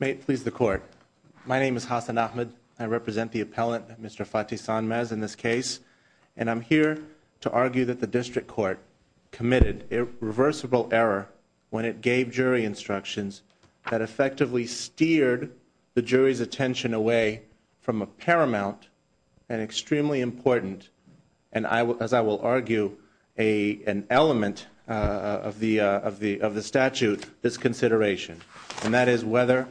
May it please the court, my name is Hassan Ahmed. I represent the appellant Mr. Fatih Sonmez in this case, and I'm here to argue that the district court committed a reversible error when it gave jury instructions that effectively steered the jury's attention away from a paramount and extremely important, and as I will argue, an element of the statute, this consideration, and that is whether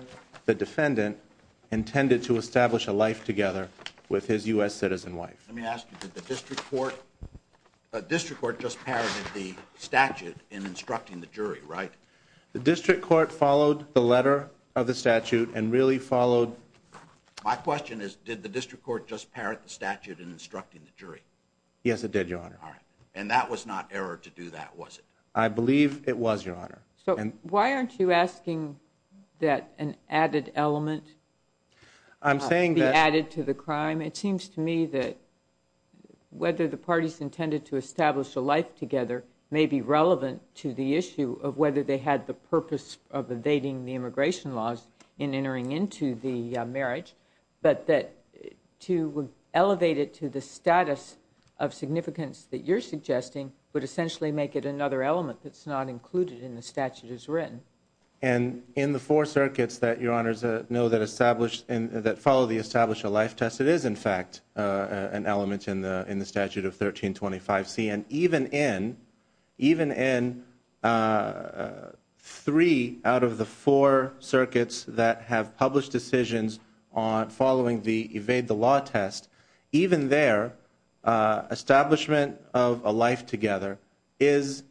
the defendant intended to establish a life together with his U.S. citizen wife. Let me ask you, did the district court just parroted the statute in instructing the jury, right? The district court followed the letter of the statute and really followed... My question is, did the district court just parrot the statute in instructing the jury? Yes it did, your honor. And that was not error to do that, was it? I believe it was, your honor. So why aren't you asking that an added element be added to the crime? It seems to me that whether the parties intended to establish a life together may be relevant to the issue of whether they had the purpose of evading the immigration laws in entering into the marriage, but that to elevate it to the status of significance that you're suggesting would essentially make it another element that's not included in the statute as written. And in the four circuits that, your honors, know that follow the establish a life test, it is, in fact, an element in the statute of 1325C, and even in three out of the four circuits that have published decisions on following the evade the law test, even there, establishment of a life together is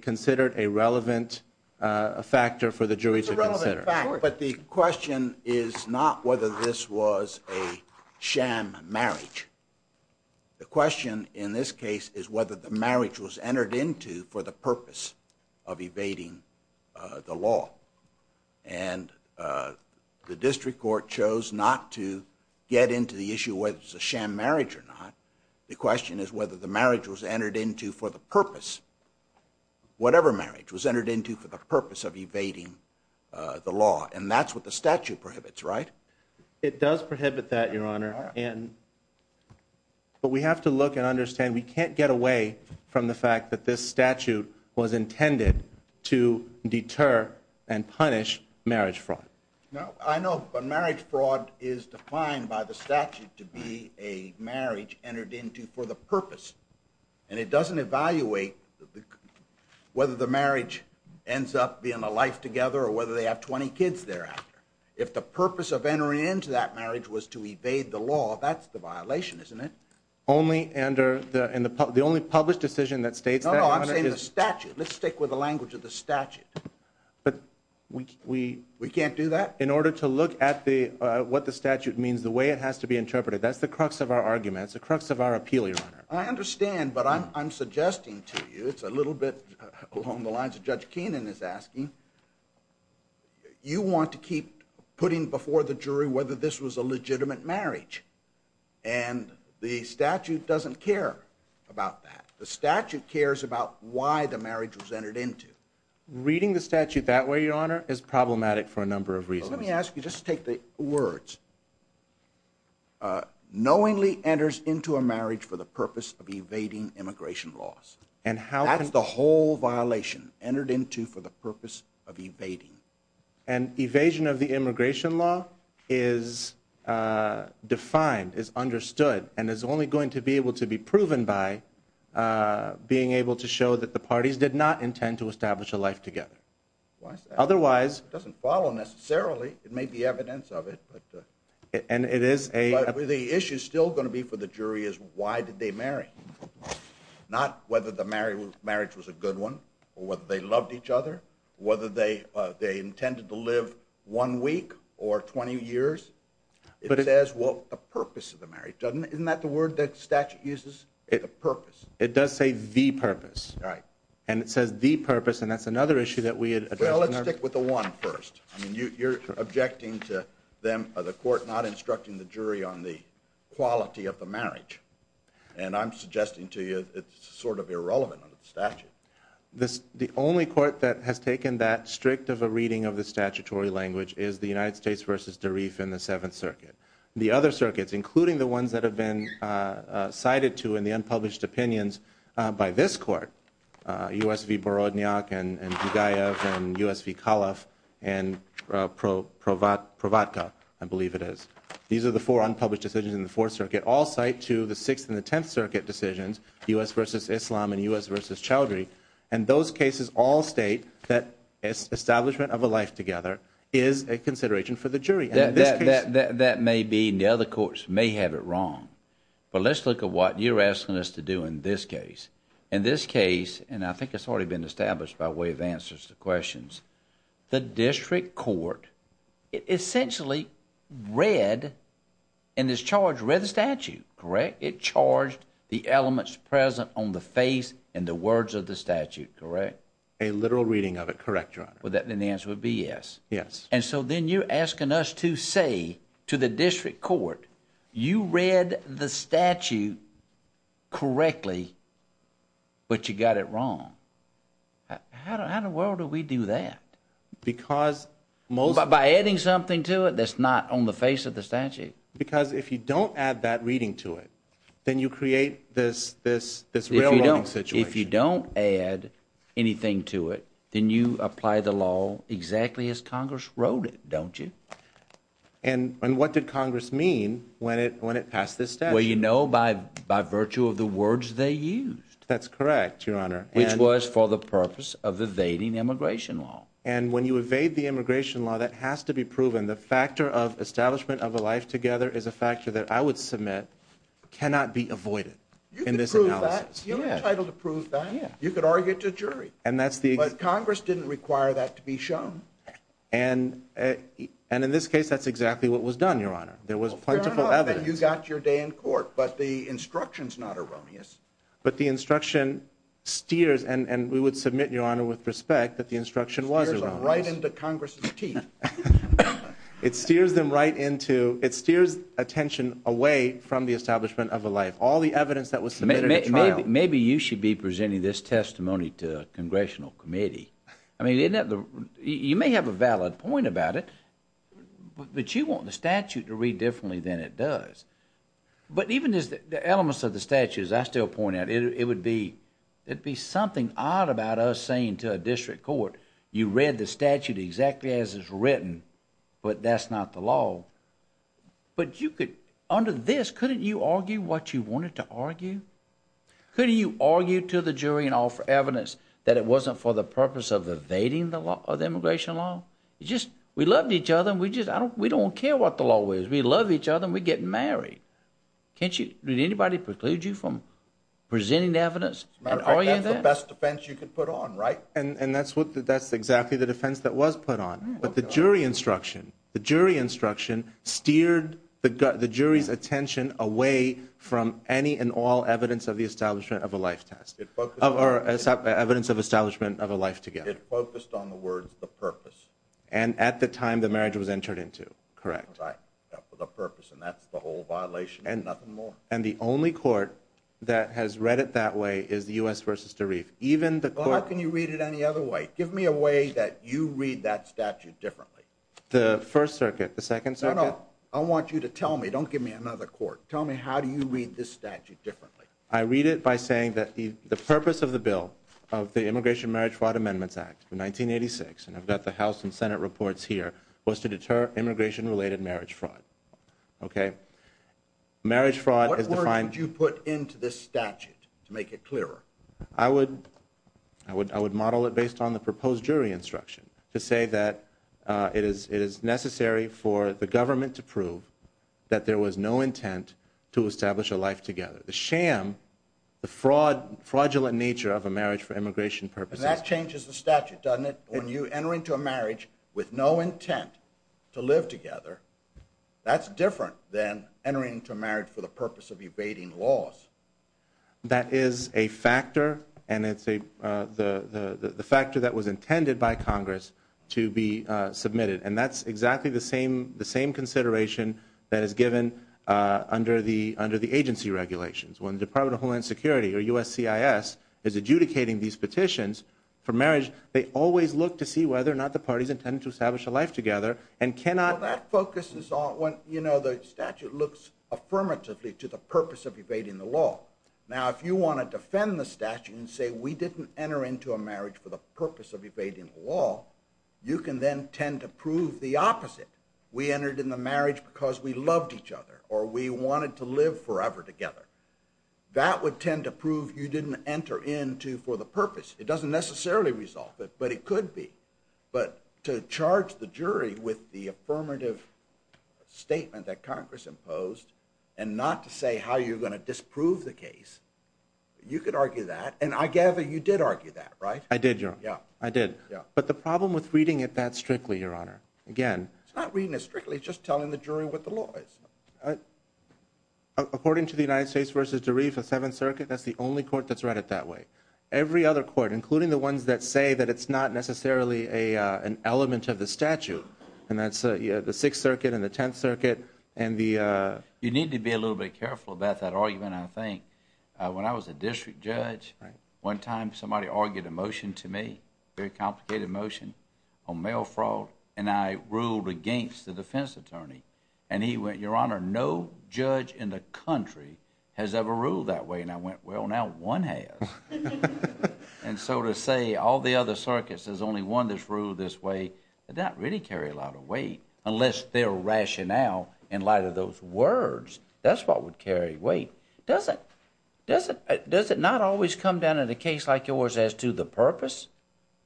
considered a relevant factor for the jury to consider. It's a relevant factor, but the question is not whether this was a sham marriage. The question in this case is whether the marriage was entered into for the purpose of evading the law. And the district court chose not to get into the issue whether it's a sham marriage or not. The question is whether the marriage was entered into for the purpose, whatever marriage was entered into for the purpose of evading the law. And that's what the statute prohibits, right? It does prohibit that, your honor. But we have to look and deter and punish marriage fraud. No, I know, but marriage fraud is defined by the statute to be a marriage entered into for the purpose. And it doesn't evaluate whether the marriage ends up being a life together or whether they have 20 kids thereafter. If the purpose of entering into that marriage was to evade the law, that's the violation, isn't it? Only under the only published decision that states that. No, no, I'm saying the statute. Let's We can't do that? In order to look at what the statute means, the way it has to be interpreted. That's the crux of our argument. It's the crux of our appeal, your honor. I understand, but I'm suggesting to you, it's a little bit along the lines of Judge Keenan is asking, you want to keep putting before the jury whether this was a legitimate marriage. And the statute doesn't care about that. The statute cares about why the marriage was entered into. Reading the statute that way, your honor, is problematic for a number of reasons. Let me ask you just to take the words. Knowingly enters into a marriage for the purpose of evading immigration laws. And how that's the whole violation entered into for the purpose of evading. And evasion of the immigration law is defined, is understood, and is only going to be able to be proven by being able to show that the parties did not intend to establish a life together. Otherwise, it doesn't follow necessarily. It may be evidence of it. And it is a the issue is still going to be for the jury is why did they marry? Not whether the marriage was a good one or they loved each other. Whether they intended to live one week or 20 years. It says what the purpose of the marriage. Isn't that the word that statute uses? The purpose. It does say the purpose. Right. And it says the purpose and that's another issue that we had. Well, let's stick with the one first. You're objecting to them, the court not instructing the jury on the quality of the marriage. And I'm suggesting to you, it's sort of irrelevant under the statute. This the only court that has taken that strict of a reading of the statutory language is the United States versus Darif in the Seventh Circuit. The other circuits, including the ones that have been cited to in the unpublished opinions by this court, U.S. v. Borodniak and Dugaev and U.S. v. Calaf and Provatka, I believe it is. These are the four unpublished decisions in the Fourth Circuit, all cite to the Sixth and the Tenth Circuit decisions, U.S. versus Islam and U.S. And those cases all state that establishment of a life together is a consideration for the jury. That may be and the other courts may have it wrong. But let's look at what you're asking us to do in this case. In this case, and I think it's already been established by way of answers to questions, the district court essentially read in this charge, read the statute, correct? It on the face and the words of the statute, correct? A literal reading of it, correct, Your Honor? Well, then the answer would be yes. Yes. And so then you're asking us to say to the district court, you read the statute correctly, but you got it wrong. How in the world do we do that? By adding something to it that's not on the face of the statute. Because if you don't add that to this real-world situation. If you don't add anything to it, then you apply the law exactly as Congress wrote it, don't you? And what did Congress mean when it passed this statute? Well, you know, by virtue of the words they used. That's correct, Your Honor. Which was for the purpose of evading immigration law. And when you evade the immigration law, that has to be proven. The factor of this analysis. You're entitled to prove that. You could argue it to a jury. But Congress didn't require that to be shown. And in this case, that's exactly what was done, Your Honor. There was plentiful evidence. You got your day in court, but the instruction's not erroneous. But the instruction steers, and we would submit, Your Honor, with respect, that the instruction was erroneous. It steers them right into Congress's teeth. It steers attention away from the trial. Maybe you should be presenting this testimony to a Congressional committee. I mean, you may have a valid point about it, but you want the statute to read differently than it does. But even as the elements of the statute, as I still point out, it would be something odd about us saying to a district court, you read the statute exactly as it's written, but that's not the law. But you could, under this, couldn't you argue what you wanted to argue? Couldn't you argue to the jury and offer evidence that it wasn't for the purpose of evading the law, the immigration law? You just, we love each other, and we just, I don't, we don't care what the law is. We love each other, and we get married. Can't you, did anybody preclude you from presenting the evidence? That's the best defense you could put on, right? And that's what, that's exactly the defense that was put on. But the jury instruction, the jury attention away from any and all evidence of the establishment of a life test, or evidence of establishment of a life together. It focused on the words, the purpose. And at the time the marriage was entered into, correct? Right, for the purpose, and that's the whole violation, nothing more. And the only court that has read it that way is the U.S. v. DeReef. Even the court- Well, how can you read it any other way? Give me a way that you read that statute differently. The First Circuit, the Second Circuit- No, no, I want you to tell me, don't give me another court. Tell me how do you read this statute differently? I read it by saying that the purpose of the bill of the Immigration Marriage Fraud Amendments Act in 1986, and I've got the House and Senate reports here, was to deter immigration-related marriage fraud. Okay? Marriage fraud is defined- What words would you put into this statute to make it clearer? I would, I would, I would model it based on the proposed jury instruction to say that it is, it is necessary for the government to prove that there was no intent to establish a life together. The sham, the fraud, fraudulent nature of a marriage for immigration purposes- And that changes the statute, doesn't it? When you enter into a marriage with no intent to live together, that's different than entering into a marriage for the purpose of evading laws. That is a factor, and it's a, the, the, the factor that was intended by Congress to be submitted. And that's exactly the same, the same consideration that is given under the, under the agency regulations. When the Department of Homeland Security or USCIS is adjudicating these petitions for marriage, they always look to see whether or not the party's intended to establish a life together and cannot- Well, that focuses on, you know, the statute looks affirmatively to the purpose of evading the law. Now, if you want to defend the statute and say, we didn't enter into a marriage for the purpose of proving the opposite, we entered in the marriage because we loved each other or we wanted to live forever together, that would tend to prove you didn't enter into for the purpose. It doesn't necessarily resolve it, but it could be. But to charge the jury with the affirmative statement that Congress imposed and not to say how you're going to disprove the case, you could argue that. And I gather you did argue that, right? I did, Your Honor. Yeah. I did. Yeah. But the problem with reading it that strictly, Your Honor, again- It's not reading it strictly. It's just telling the jury what the law is. According to the United States v. DeReef, the Seventh Circuit, that's the only court that's read it that way. Every other court, including the ones that say that it's not necessarily an element of the statute, and that's the Sixth Circuit and the Tenth Circuit and the- You need to be a little bit careful about that argument, I think. When I was a district judge, one time somebody argued a motion to me, a very complicated motion, on mail fraud, and I ruled against the defense attorney. And he went, Your Honor, no judge in the country has ever ruled that way. And I went, well, now one has. And so to say all the other circuits, there's only one that's ruled this way, that doesn't really carry a lot of weight, unless their rationale, in light of those words, that's what would carry weight. Does it? Does it not always come down in a case like yours as to the purpose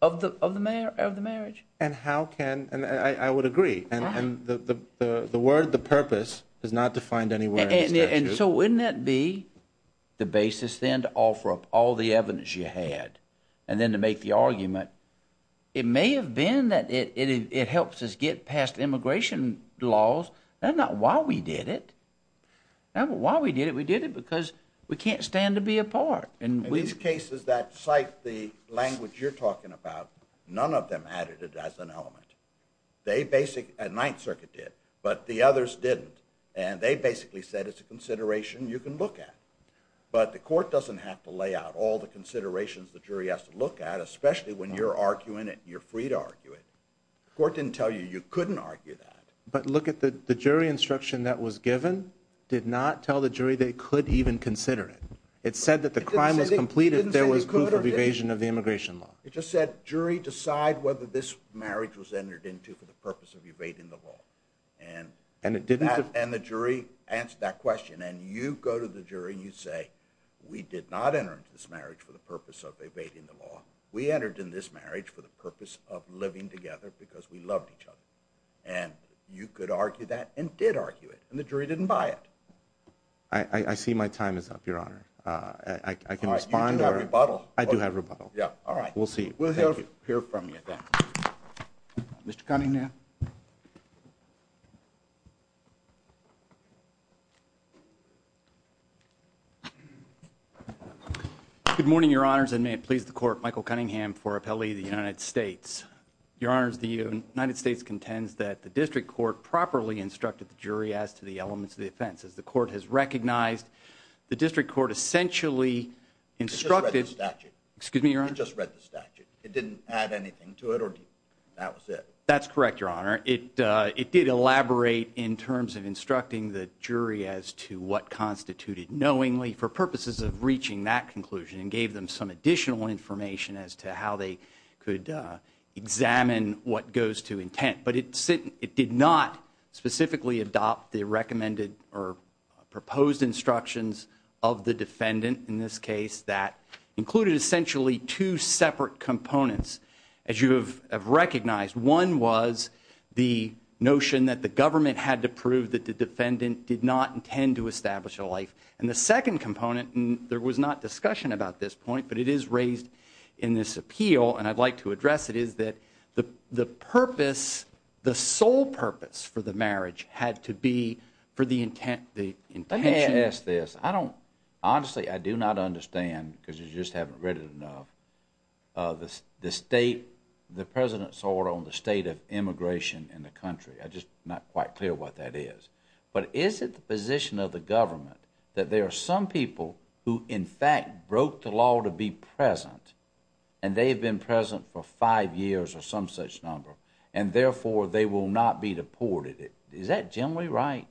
of the marriage? And how can- I would agree. And the word, the purpose, is not defined anywhere in the statute. And so wouldn't that be the basis, then, to offer up all the evidence you had, and then to make the argument? It may have been that it helps us get past immigration laws. That's not why we did it. Why we did it? We did it because we can't stand to be apart. In these cases that cite the language you're talking about, none of them added it as an element. They basically- the Ninth Circuit did, but the others didn't. And they basically said it's a consideration you can look at. But the court doesn't have to lay out all the considerations the jury has to look at, especially when you're arguing it and you're free to argue it. The court didn't tell you you couldn't argue that. But look at the jury instruction that was given did not tell the jury they could even consider it. It said that the crime was complete if there was proof of evasion of the immigration law. It just said, jury, decide whether this marriage was entered into for the purpose of evading the law. And it didn't- And the jury answered that question. And you go to the jury and you say, we did not enter into this marriage for the purpose of evading the law. We entered in this marriage for the purpose of living together because we loved each other. And you could argue that and did argue it. And the jury didn't buy it. I see my time is up, your honor. I can respond. You do have rebuttal. I do have rebuttal. Yeah, all right. We'll see. We'll hear from you then. Mr. Cunningham. Good morning, your honors. And may it please the court, Michael Cunningham for appellee of the United States. Your honors, the United States contends that the district court properly instructed the jury as to the elements of the offense. As the court has recognized, the district court essentially instructed- It just read the statute. Excuse me, your honor? It just read the statute. It didn't add anything to it or that was it. That's correct, your honor. It did elaborate in terms of instructing the jury as to what constituted knowingly for purposes of reaching that conclusion and gave them some additional information as to how they could examine what goes to intent. But it did not specifically adopt the recommended or proposed instructions of the defendant in this case that included essentially two separate components, as you have recognized. One was the notion that the government had to prove that the defendant did not intend to establish a life. And the second component, and there was not discussion about this point, but it is raised in this appeal, and I'd like to address it, is that the purpose, the sole purpose for the marriage had to be for the intention- Honestly, I do not understand, because you just haven't read it enough, the President's order on the state of immigration in the country. I'm just not quite clear what that is. But is it the position of the government that there are some people who in fact broke the law to be present, and they've been present for five years or some such number, and therefore they will not be deported? Is that generally right?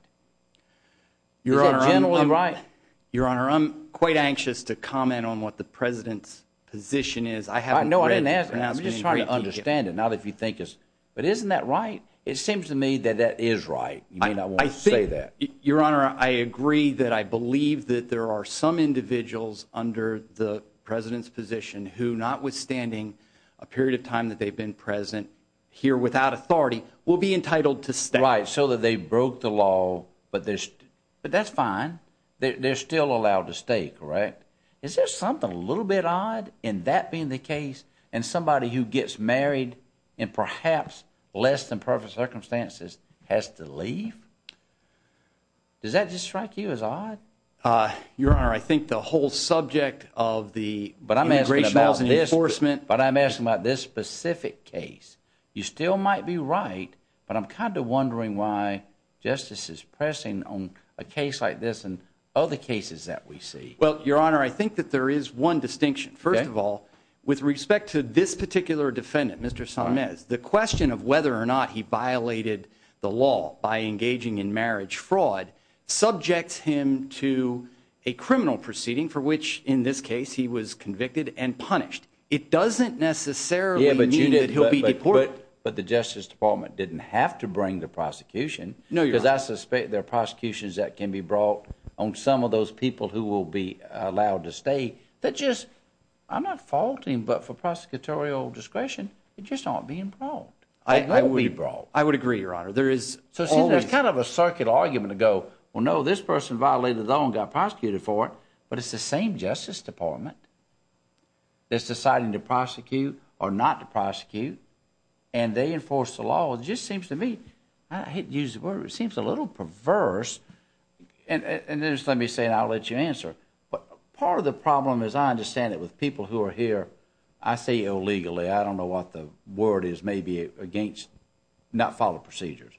Is that generally right? Your Honor, I'm quite anxious to comment on what the President's position is. I haven't- No, I didn't ask that. I'm just trying to understand it, not if you think it's- But isn't that right? It seems to me that that is right. You may not want to say that. Your Honor, I agree that I believe that there are some individuals under the President's position who, notwithstanding a period of time that they've been present here without authority, will be entitled to stay. So that they broke the law, but that's fine. They're still allowed to stay, correct? Is there something a little bit odd in that being the case, and somebody who gets married in perhaps less than perfect circumstances has to leave? Does that just strike you as odd? Your Honor, I think the whole subject of the immigration laws and enforcement- Justice is pressing on a case like this and other cases that we see. Well, Your Honor, I think that there is one distinction. First of all, with respect to this particular defendant, Mr. Samez, the question of whether or not he violated the law by engaging in marriage fraud subjects him to a criminal proceeding for which, in this case, he was convicted and punished. It doesn't necessarily mean that he'll be deported. But the Justice Department didn't have to bring the prosecution. No, Your Honor. Because I suspect there are prosecutions that can be brought on some of those people who will be allowed to stay that just- I'm not faulting, but for prosecutorial discretion, they just aren't being brought. They won't be brought. I would agree, Your Honor. There is- So see, there's kind of a circuit argument to go, well, no, this person violated the law and got prosecuted for it, but it's the same Justice Department that's deciding to prosecute or not to prosecute, and they enforce the law. It just seems to me- I hate to use the word, but it seems a little perverse. And just let me say, and I'll let you answer. But part of the problem is I understand that with people who are here, I say illegally. I don't know what the word is. Maybe it's against not following procedures.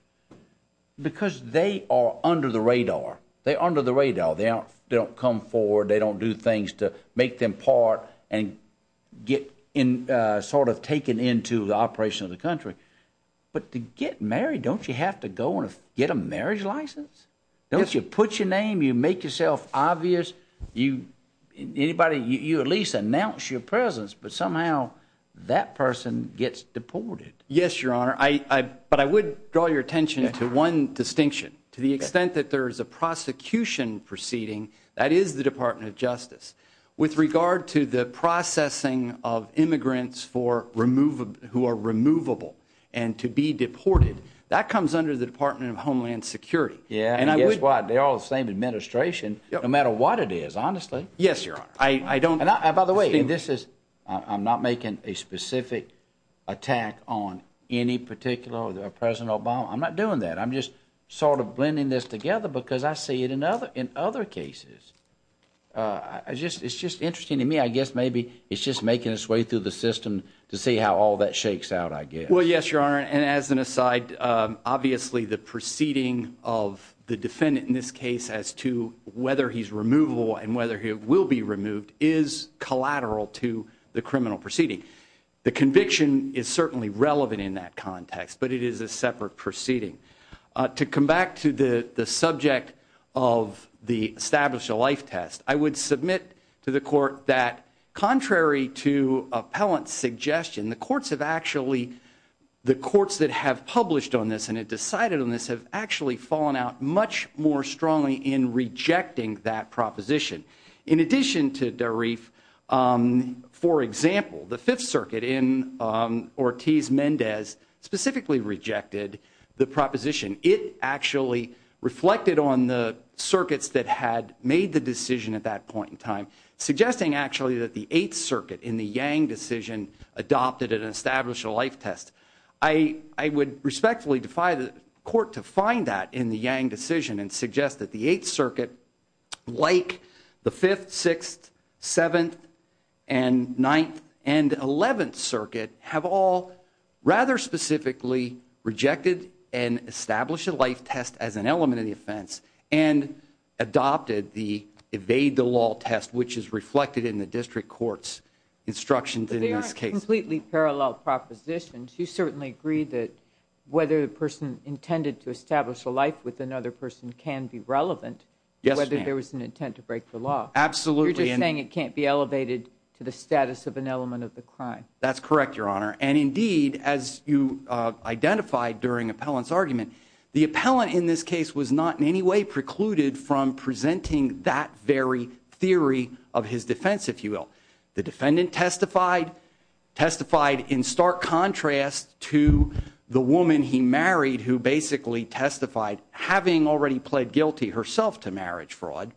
Because they are under the radar. They're under the radar. They don't come forward. They don't do things to make them part and get in- sort of taken into the operation of the country. But to get married, don't you have to go and get a marriage license? Yes. Don't you put your name? You make yourself obvious? You- anybody- you at least announce your presence, but somehow that person gets deported. Yes, Your Honor. I- but I would draw your attention to one distinction. To the extent that there is a prosecution proceeding, that is the Department of Justice. With regard to the processing of immigrants for remove- who are removable and to be deported, that comes under the Department of Homeland Security. Yeah. And I would- That's why they're all the same administration, no matter what it is, honestly. Yes, Your Honor. I- I don't- And I- by the way, this is- I'm not making a specific attack on any particular President Obama. I'm not doing that. I'm just sort of blending this together because I see it in other- in other cases. I- I just- it's just interesting to me. I guess maybe it's just making its way through the system to see how all that shakes out, I guess. Well, yes, Your Honor. And as an aside, obviously the proceeding of the defendant in this case as to whether he's removable and whether he will be removed is collateral to the criminal proceeding. The conviction is certainly relevant in that context, but it is a separate proceeding. To come back to the- the subject of the established-to-life test, I would submit to the Court that contrary to appellant's suggestion, the Courts have actually- the Courts that have published on this and have decided on this have actually fallen out much more strongly in rejecting that proposition. In addition to Dareef, for example, the Fifth Circuit in Ortiz-Mendez specifically rejected the proposition. It actually reflected on the circuits that had made the decision at that point in time, suggesting actually that the Eighth Circuit in the Yang decision adopted and established a life test. I- I would respectfully defy the Court to find that in the Yang decision and suggest that the Eighth Circuit, like the Eleventh Circuit, have all rather specifically rejected and established a life test as an element of the offense and adopted the evade-the-law test, which is reflected in the District Court's instructions in this case. But they aren't completely parallel propositions. You certainly agree that whether the person intended to establish a life with another person can be relevant. Yes, ma'am. Whether there was an intent to break the law. Absolutely. You're just saying it can't be elevated to the status of an element of the crime. That's correct, Your Honor. And indeed, as you identified during Appellant's argument, the Appellant in this case was not in any way precluded from presenting that very theory of his defense, if you will. The defendant testified- testified in stark contrast to the woman he married, who basically testified having already pled guilty herself to marriage fraud.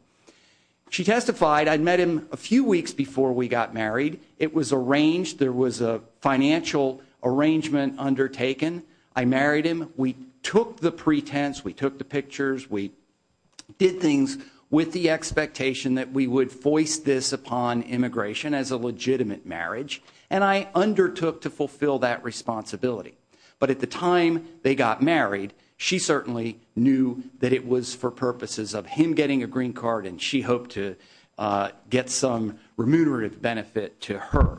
She testified, I'd met him a few weeks before we got married. It was arranged. There was a financial arrangement undertaken. I married him. We took the pretense. We took the pictures. We did things with the expectation that we would voice this upon immigration as a legitimate marriage. And I undertook to fulfill that responsibility. But at the time they got married, she certainly knew that it was for purposes of him getting a green card, and she hoped to get some remunerative benefit to her.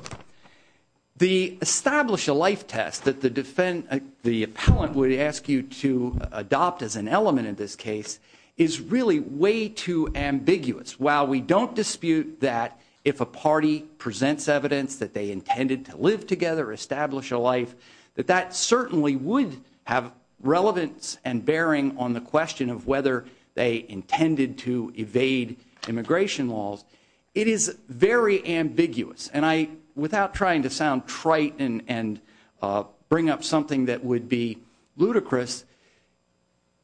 The establish a life test that the defendant- the Appellant would ask you to adopt as an element in this case is really way too ambiguous. While we don't dispute that if a party presents evidence that they intended to live together, establish a life, that that certainly would have relevance and bearing on the question of whether they intended to evade immigration laws, it is very ambiguous. And I- without trying to sound trite and bring up something that would be ludicrous,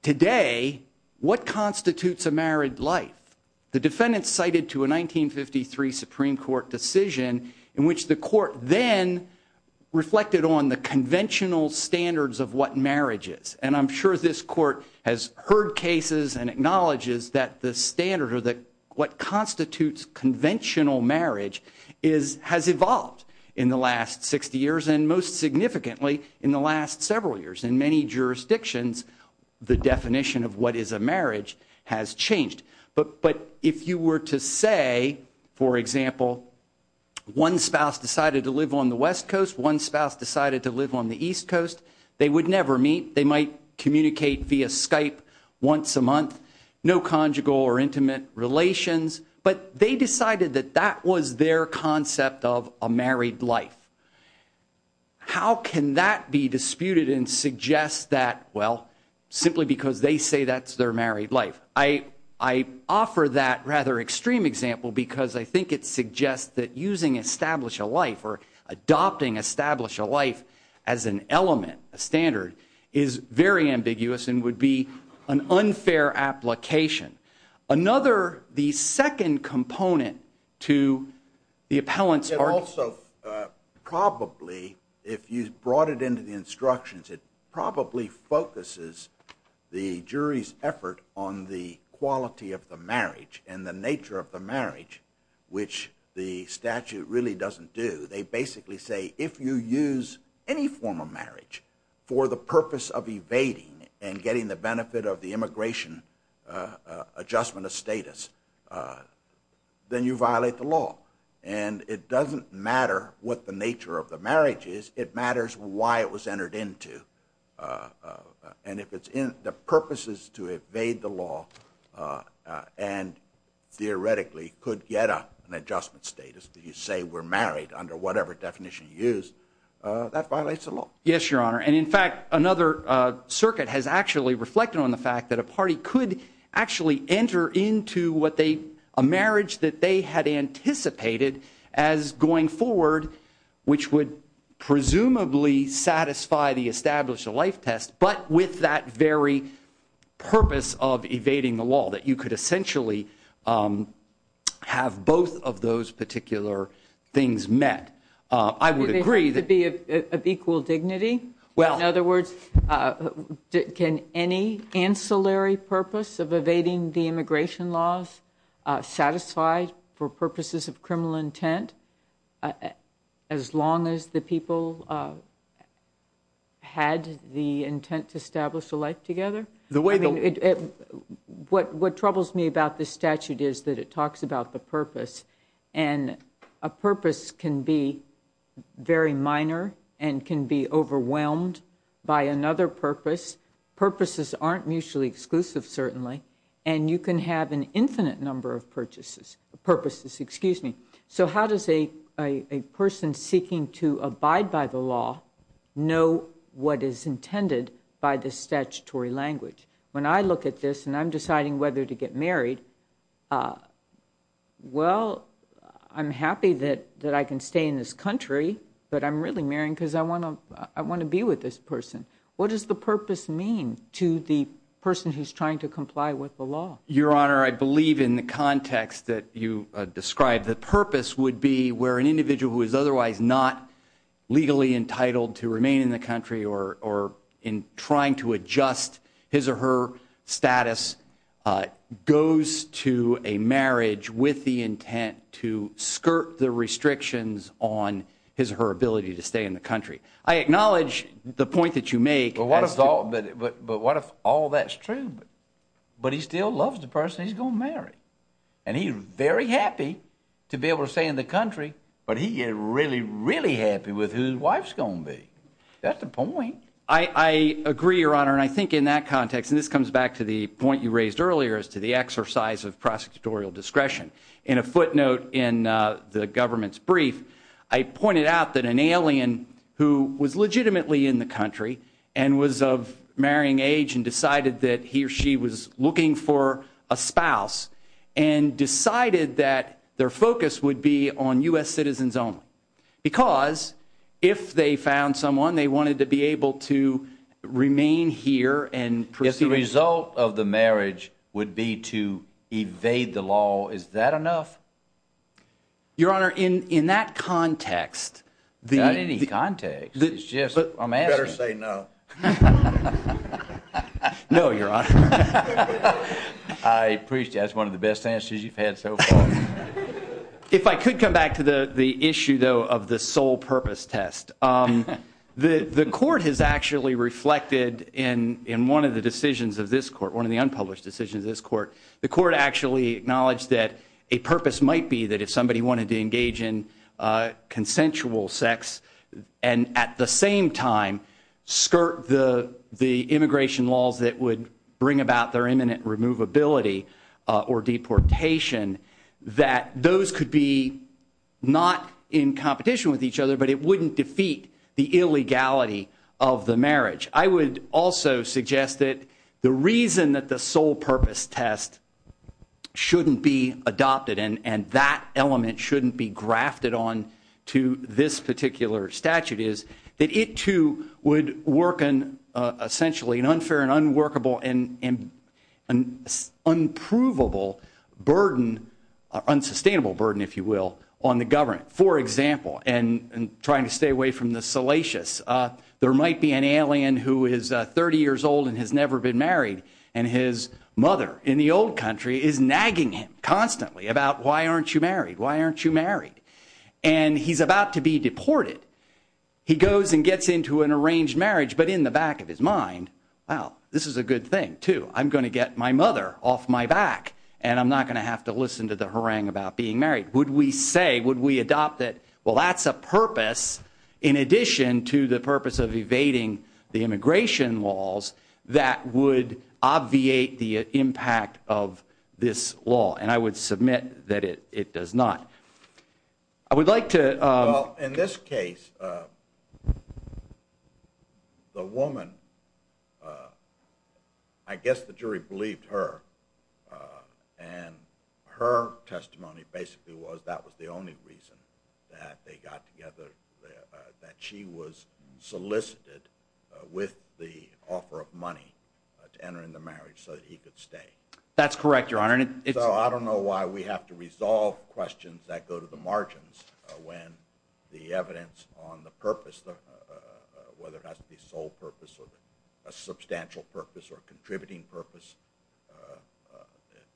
today what constitutes a married life? The defendant cited to a 1953 Supreme Court decision in which the court then reflected on the conventional standards of what marriage is. And I'm sure this court has heard cases and acknowledges that the standard or that what constitutes conventional marriage is- has evolved in the last 60 years and most significantly in the last several years. In many jurisdictions, the definition of what is a marriage has changed. But- but if you were to say, for example, one spouse decided to live on the west coast, one spouse decided to live on the east coast, they would never meet. They might communicate via Skype once a month, no conjugal or intimate relations, but they decided that that was their concept of a married life. How can that be simply because they say that's their married life? I- I offer that rather extreme example because I think it suggests that using establish a life or adopting establish a life as an element, a standard, is very ambiguous and would be an unfair application. Another- the second component to the appellant's argument- And also probably, if you brought it into the instructions, it probably focuses the jury's effort on the quality of the marriage and the nature of the marriage, which the statute really doesn't do. They basically say if you use any form of marriage for the purpose of evading and getting the benefit of the immigration adjustment of status, then you violate the law. And it doesn't matter what the nature of the marriage is, it matters why it was entered into. And if it's in the purposes to evade the law and theoretically could get an adjustment status that you say we're married under whatever definition you use, that violates the law. Yes, your honor. And in fact, another circuit has actually reflected on the fact that a party could actually enter into what they- a marriage that had anticipated as going forward, which would presumably satisfy the establish a life test, but with that very purpose of evading the law that you could essentially have both of those particular things met. I would agree that- To be of equal dignity? Well- In other words, can any ancillary purpose of evading the immigration laws satisfy for purposes of criminal intent as long as the people had the intent to establish a life together? What troubles me about this statute is that it talks about the purpose. And a purpose can be very minor and can be overwhelmed by another purpose. Purposes aren't mutually exclusive, certainly. And you can have an infinite number of purposes. So how does a person seeking to abide by the law know what is intended by the statutory language? When I look at this and I'm really marrying because I want to be with this person, what does the purpose mean to the person who's trying to comply with the law? Your honor, I believe in the context that you described, the purpose would be where an individual who is otherwise not legally entitled to remain in the country or in trying to adjust his or her status goes to a marriage with the intent to skirt the country. I acknowledge the point that you make- But what if all that's true? But he still loves the person he's going to marry. And he's very happy to be able to stay in the country, but he is really, really happy with who his wife's going to be. That's the point. I agree, your honor. And I think in that context, and this comes back to the point you raised earlier as to the exercise of prosecutorial discretion. In a footnote in the government's brief, I pointed out that an alien who was legitimately in the country and was of marrying age and decided that he or she was looking for a spouse and decided that their focus would be on US citizens only. Because if they found someone, they wanted to be able to remain here and proceed- If the result of the marriage would be to evade the law, is that enough? Your honor, in that context- Not in any context, it's just I'm asking. Better say no. No, your honor. I appreciate it. That's one of the best answers you've had so far. If I could come back to the issue, though, of the sole purpose test. The court has actually reflected in one of the decisions of this court, one of the unpublished decisions of this court, the court actually acknowledged that a purpose might be that if somebody wanted to engage in consensual sex and at the same time skirt the immigration laws that would bring about their imminent removability or deportation, that those could be not in competition with each other, but it wouldn't defeat the illegality of the marriage. I would also suggest that the reason that the sole purpose test shouldn't be adopted and that element shouldn't be grafted on to this particular statute is that it too would work in essentially an unfair and unworkable and unprovable burden, unsustainable burden, if you will, on the government. For example, and trying to stay away from the salacious, there might be an alien who is 30 years old and has never been married and his mother in the old country is nagging him constantly about, why aren't you married? Why aren't you married? And he's about to be deported. He goes and gets into an arranged marriage, but in the back of his mind, wow, this is a good thing too. I'm going to get my mother off my back and I'm not going to have to listen to the harangue about being married. Would we say, would we adopt it? Well, that's a purpose in addition to the purpose of evading the immigration laws that would obviate the impact of this law. And I would submit that it does not. I would like to- Well, in this case, the woman, I guess the jury believed her and her testimony basically was that was the only reason that they got together, that she was solicited with the offer of money to enter into marriage so that he could stay. That's correct, your honor. So I don't know why we have to resolve questions that go to the margins when the evidence on the purpose, whether it has to be sole purpose or a substantial purpose or contributing purpose.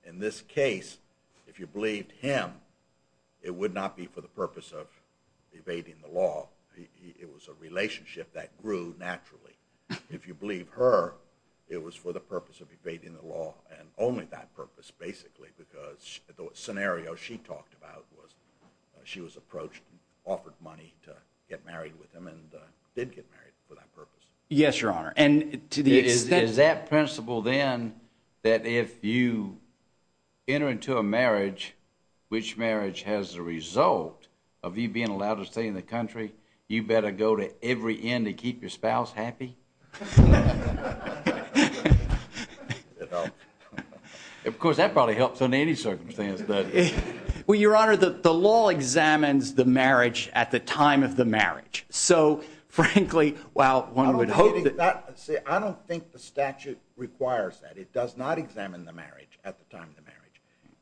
In this case, if you believed him, it would not be for the purpose of evading the law. It was a relationship that grew naturally. If you believe her, it was for the purpose of evading the law and only that purpose basically, because the scenario she talked about was she was approached, offered money to get married with him and did get married for that purpose. Yes, your honor. And to the extent- Is that principle then that if you enter into a marriage, which marriage has the result of you being allowed to stay in the country, you better go to every end to keep your spouse happy? Of course, that probably helps in any circumstance, but- Well, your honor, the law examines the marriage at the time of the marriage. So frankly, while one would hope that- I don't think the statute requires that. It does not examine the marriage at the time of the marriage.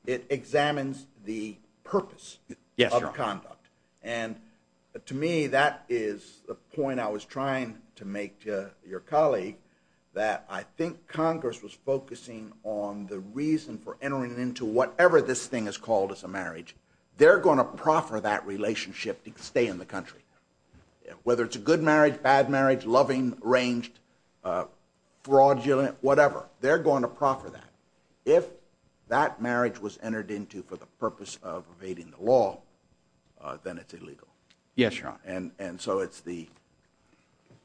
It examines the purpose of conduct. And to me, that is the point I was trying to make to your colleague, that I think Congress was focusing on the reason for entering into whatever this thing is called as a marriage. They're going to proffer that relationship to stay in the country, whether it's a good marriage, bad marriage, loving, ranged, fraudulent, whatever. They're going to proffer that. If that marriage was entered into for the purpose of evading the law, then it's illegal. Yes, your honor. And so it's the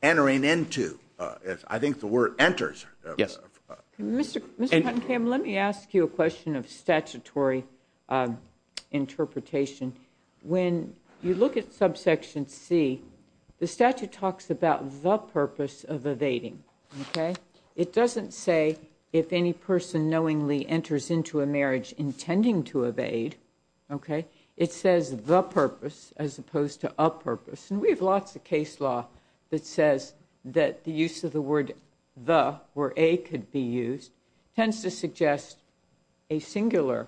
entering into, I think the word enters. Mr. Kuttenkamp, let me ask you a question of statutory interpretation. When you look at subsection C, the statute talks about the purpose of evading, okay? It doesn't say if any person knowingly enters into a marriage intending to evade, okay? It says the purpose as opposed to a purpose. And we have lots of case law that says that the use of the word the, where a could be used, tends to suggest a singular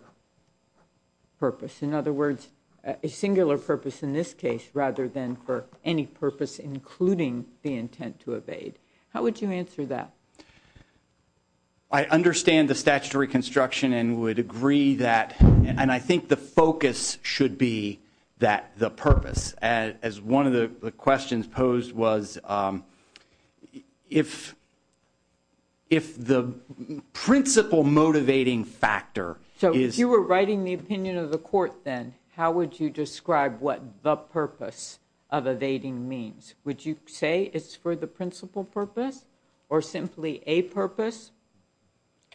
purpose. In other words, a singular purpose in this case, rather than for any purpose, including the intent to evade. How would you answer that? I understand the statutory construction and would agree that, and I think the focus should be that the purpose, as one of the questions posed was, if the principle motivating factor is... So if you were writing the opinion of the court then, how would you describe what the purpose of evading means? Would you say it's for the principal purpose or simply a purpose?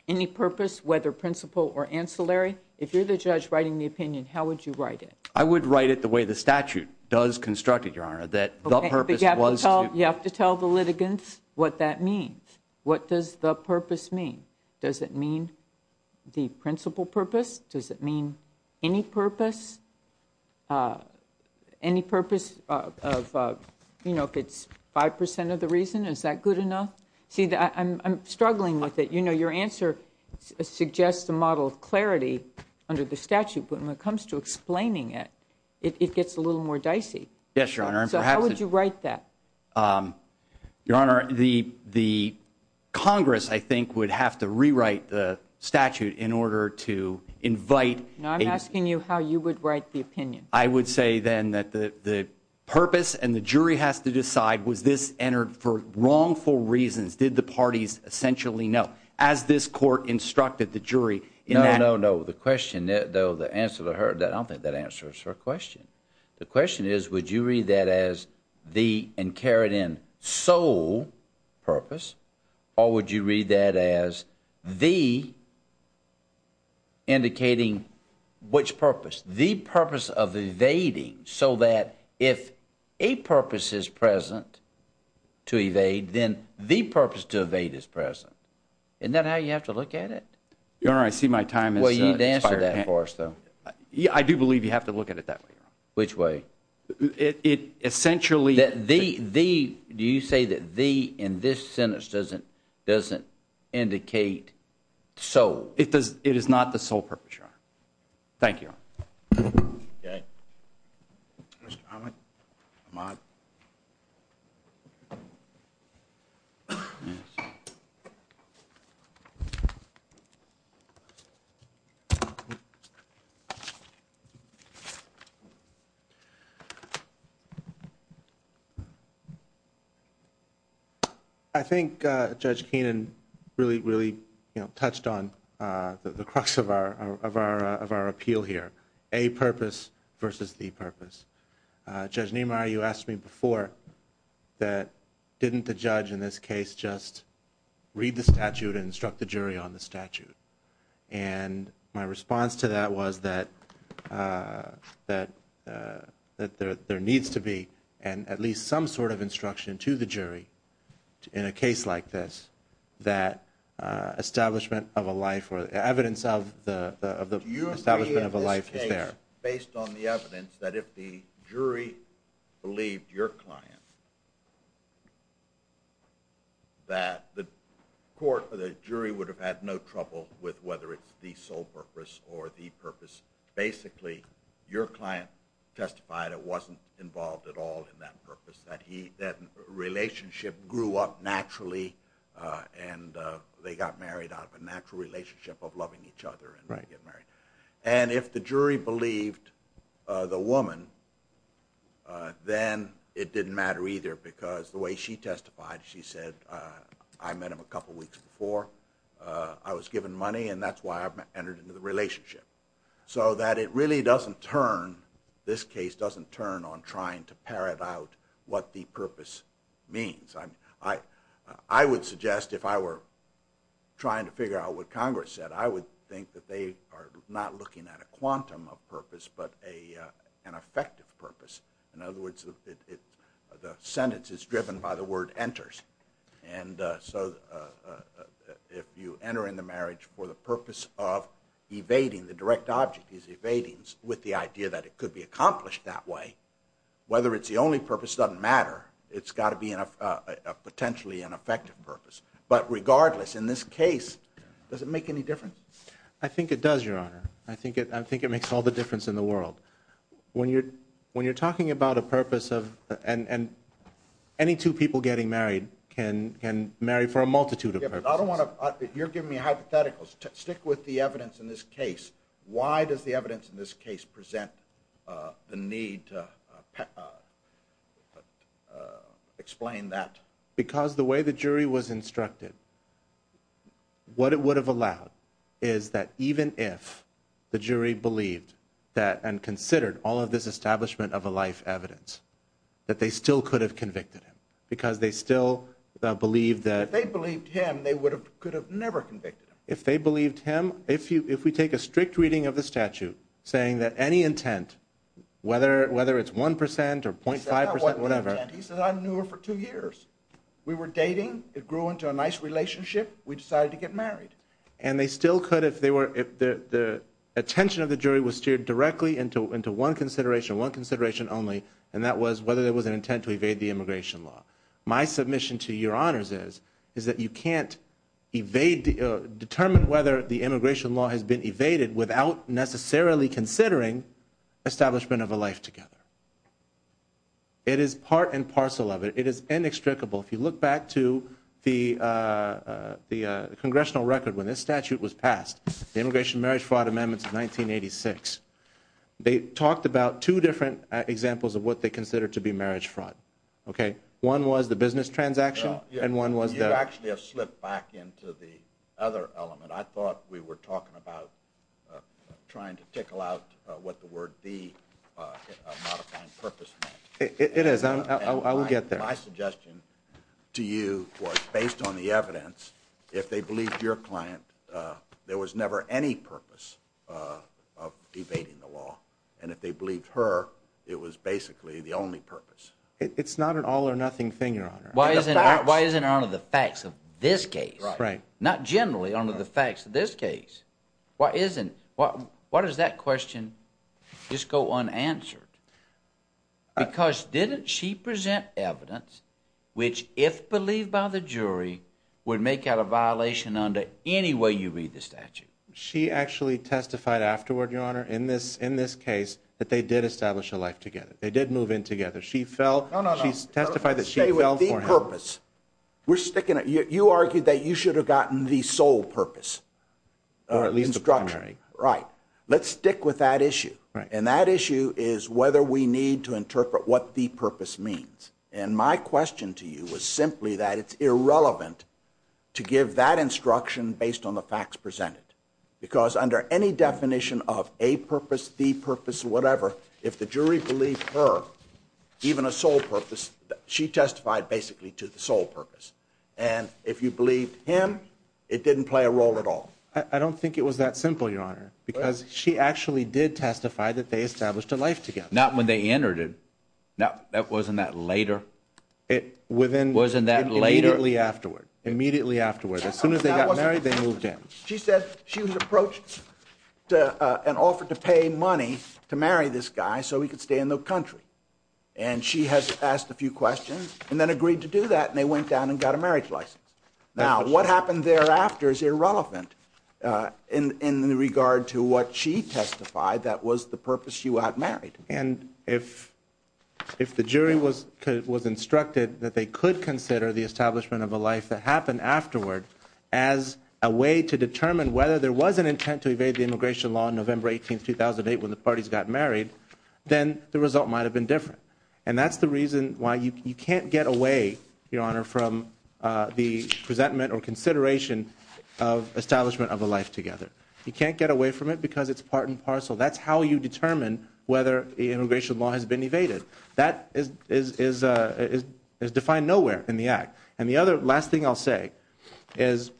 Any purpose, whether principal or ancillary? If you're the judge writing the opinion, how would you write it? I would write it the way the statute does construct it, your honor, that the purpose was to... You have to tell the litigants what that means. What does the purpose mean? Does it mean the principal purpose? Does it mean any purpose? Any purpose of, you know, if it's 5% of the reason, is that good enough? See, I'm struggling with it. You know, your answer suggests a model of clarity under the statute, but when it comes to explaining it, it gets a little more dicey. Yes, your honor, and perhaps... So how would you write that? Your honor, the Congress, I think, would have to rewrite the statute in order to invite... I'm asking you how you would write the opinion. I would say then that the purpose and the jury has to decide, was this entered for wrongful reasons? Did the parties essentially know? As this court instructed the jury in that... No, no, no. The question, though, the answer to her, I don't think that answers her question. The question is, would you read that as the and carried in sole purpose, or would you read that as the indicating which purpose? The purpose of evading so that if a purpose is present to evade, then the purpose to evade is present. Isn't that how you have to look at it? Your honor, I see my time has expired. Well, you'd answer that for us, though. I do believe you have to look at it that way. Which way? It essentially... The... Do you say that the, in this sentence, doesn't indicate sole? It is not the sole purpose, your honor. Thank you, your honor. Okay. Mr. Armitage, if you don't mind. I think Judge Keenan really, really touched on the crux of our appeal here. A purpose versus the purpose. Judge Niemeyer, you asked me before that, didn't the judge in this case just read the statute and instruct the jury on the statute? And my response to that was that there needs to be at least some sort of instruction to the jury in a case like this, that establishment of a life or evidence of the establishment of a life is there. Do you agree in this case, based on the evidence, that if the jury believed your client that the court or the jury would have had no trouble with whether it's the sole purpose or the purpose, basically your client testified it wasn't involved at all in that purpose, that relationship grew up naturally and they got married out of a natural relationship of loving each other and they get married. And if the jury believed the woman, then it didn't matter either because the way she testified, she said, I met him a couple weeks before, I was given money and that's why I've entered into the relationship. So that it really doesn't turn, this case doesn't turn on trying to parrot out what the purpose means. I would suggest if I were trying to figure out what Congress said, I would think that they are not looking at a quantum of purpose but an effective purpose. In other words, the sentence is driven by the word enters. And so if you enter in the marriage for the purpose of evading, the direct object is evadings, with the idea that it could be accomplished that way, whether it's the only purpose doesn't matter. It's got to be a potentially ineffective purpose. But regardless, in this case, does it make any difference? I think it does, Your Honor. I think it makes all the difference in the world. When you're talking about a purpose of, and any two people getting married can marry for a multitude of purposes. You're giving me a hypothetical. Stick with the evidence in this case. Why does the evidence in this case present the need to explain that? Because the way the jury was instructed, what it would have allowed is that even if the jury believed that and considered all of this establishment of a life evidence, that they still could have convicted him. Because they still believe that- If they believed him, they could have never convicted him. If they believed him, if we take a strict reading of the statute, saying that any intent, whether it's 1% or 0.5%, whatever- He said, I knew her for two years. We were dating. It grew into a nice relationship. We decided to get married. And they still could if the attention of the jury was steered directly into one consideration, one consideration only, and that was whether there was an intent to evade the immigration law. My submission to Your Honors is, is that you can't determine whether the immigration law has been evaded without necessarily considering establishment of a life together. It is part and parcel of it. It is inextricable. If you look back to the congressional record when this statute was passed, the Immigration Marriage Fraud Amendments of 1986, they talked about two different examples of what they considered to be marriage fraud. One was the business transaction and one was the- You actually have slipped back into the other element. I thought we were talking about trying to tickle out what the word the modifying purpose meant. It is. I will get there. My suggestion to you was based on the evidence, if they believed your client, there was never any purpose of evading the law. And if they believed her, it was basically the only purpose. It is not an all or nothing thing, Your Honor. Why isn't it under the facts of this case? Right. Not generally under the facts of this case. Why does that question just go unanswered? Because didn't she present evidence which, if believed by the jury, would make out a violation under any way you read the statute? She actually testified afterward, Your Honor, in this case that they did establish a life together. They did move in together. She fell- No, no, no. She testified that she fell for him. Stay with the purpose. We're sticking at- You argued that you should have gotten the sole purpose. Or at least the primary. Right. Let's stick with that issue. And that issue is whether we need to interpret what the purpose means. And my question to you was simply that it's irrelevant to give that instruction based on the facts presented. Because under any definition of a purpose, the purpose, whatever, if the jury believed her, even a sole purpose, she testified basically to the sole purpose. And if you believed him, it didn't play a role at all. I don't think it was that simple, Your Honor, because she actually did testify that they established a life together. Not when they entered it. No, that wasn't that later. It within- Wasn't that later? Immediately afterward. Immediately afterward. As soon as they got married, they moved in. She said she was approached and offered to pay money to marry this guy so he could stay in the country. And she has asked a few questions and then agreed to do that. And they went down and And if the jury was instructed that they could consider the establishment of a life that happened afterward as a way to determine whether there was an intent to evade the immigration law on November 18th, 2008, when the parties got married, then the result might have been different. And that's the reason why you can't get away, Your Honor, from the presentment or consideration of establishment of a life together. You can't get away from it because it's part and parcel. That's how you determine whether the immigration law has been evaded. That is defined nowhere in the act. And the other last thing I'll say is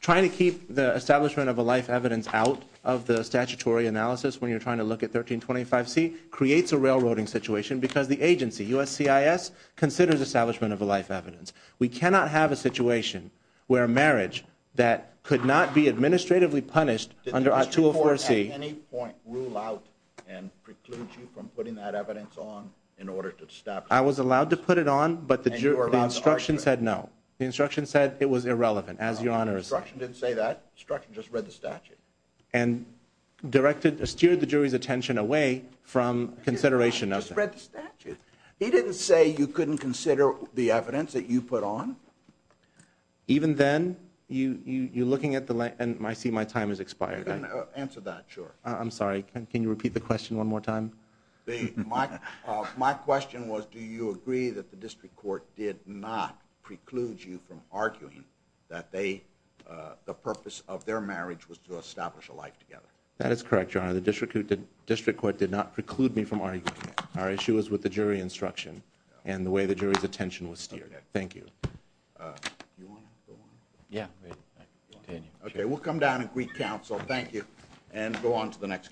trying to keep the establishment of a life evidence out of the statutory analysis when you're trying to look at 1325C creates a railroading situation because the agency, USCIS, considers establishment of a life evidence. We cannot have a situation where a marriage that could not be administratively punished under 204C... Did the District Court at any point rule out and preclude you from putting that evidence on in order to establish... I was allowed to put it on, but the instruction said no. The instruction said it was irrelevant, as Your Honor is saying. The instruction didn't say that. The instruction just read the statute. And directed, steered the jury's attention away from consideration of that. He didn't say you couldn't consider the evidence that you put on? Even then, you're looking at the... And I see my time has expired. You can answer that, sure. I'm sorry. Can you repeat the question one more time? My question was, do you agree that the District Court did not preclude you from arguing that the purpose of their marriage was to establish a life together? That is correct, Your Honor. The District Court did not preclude me from arguing that. Our issue is with the jury instruction and the way the jury's attention was steered. Thank you. Okay, we'll come down and greet counsel. Thank you. And go on to the next...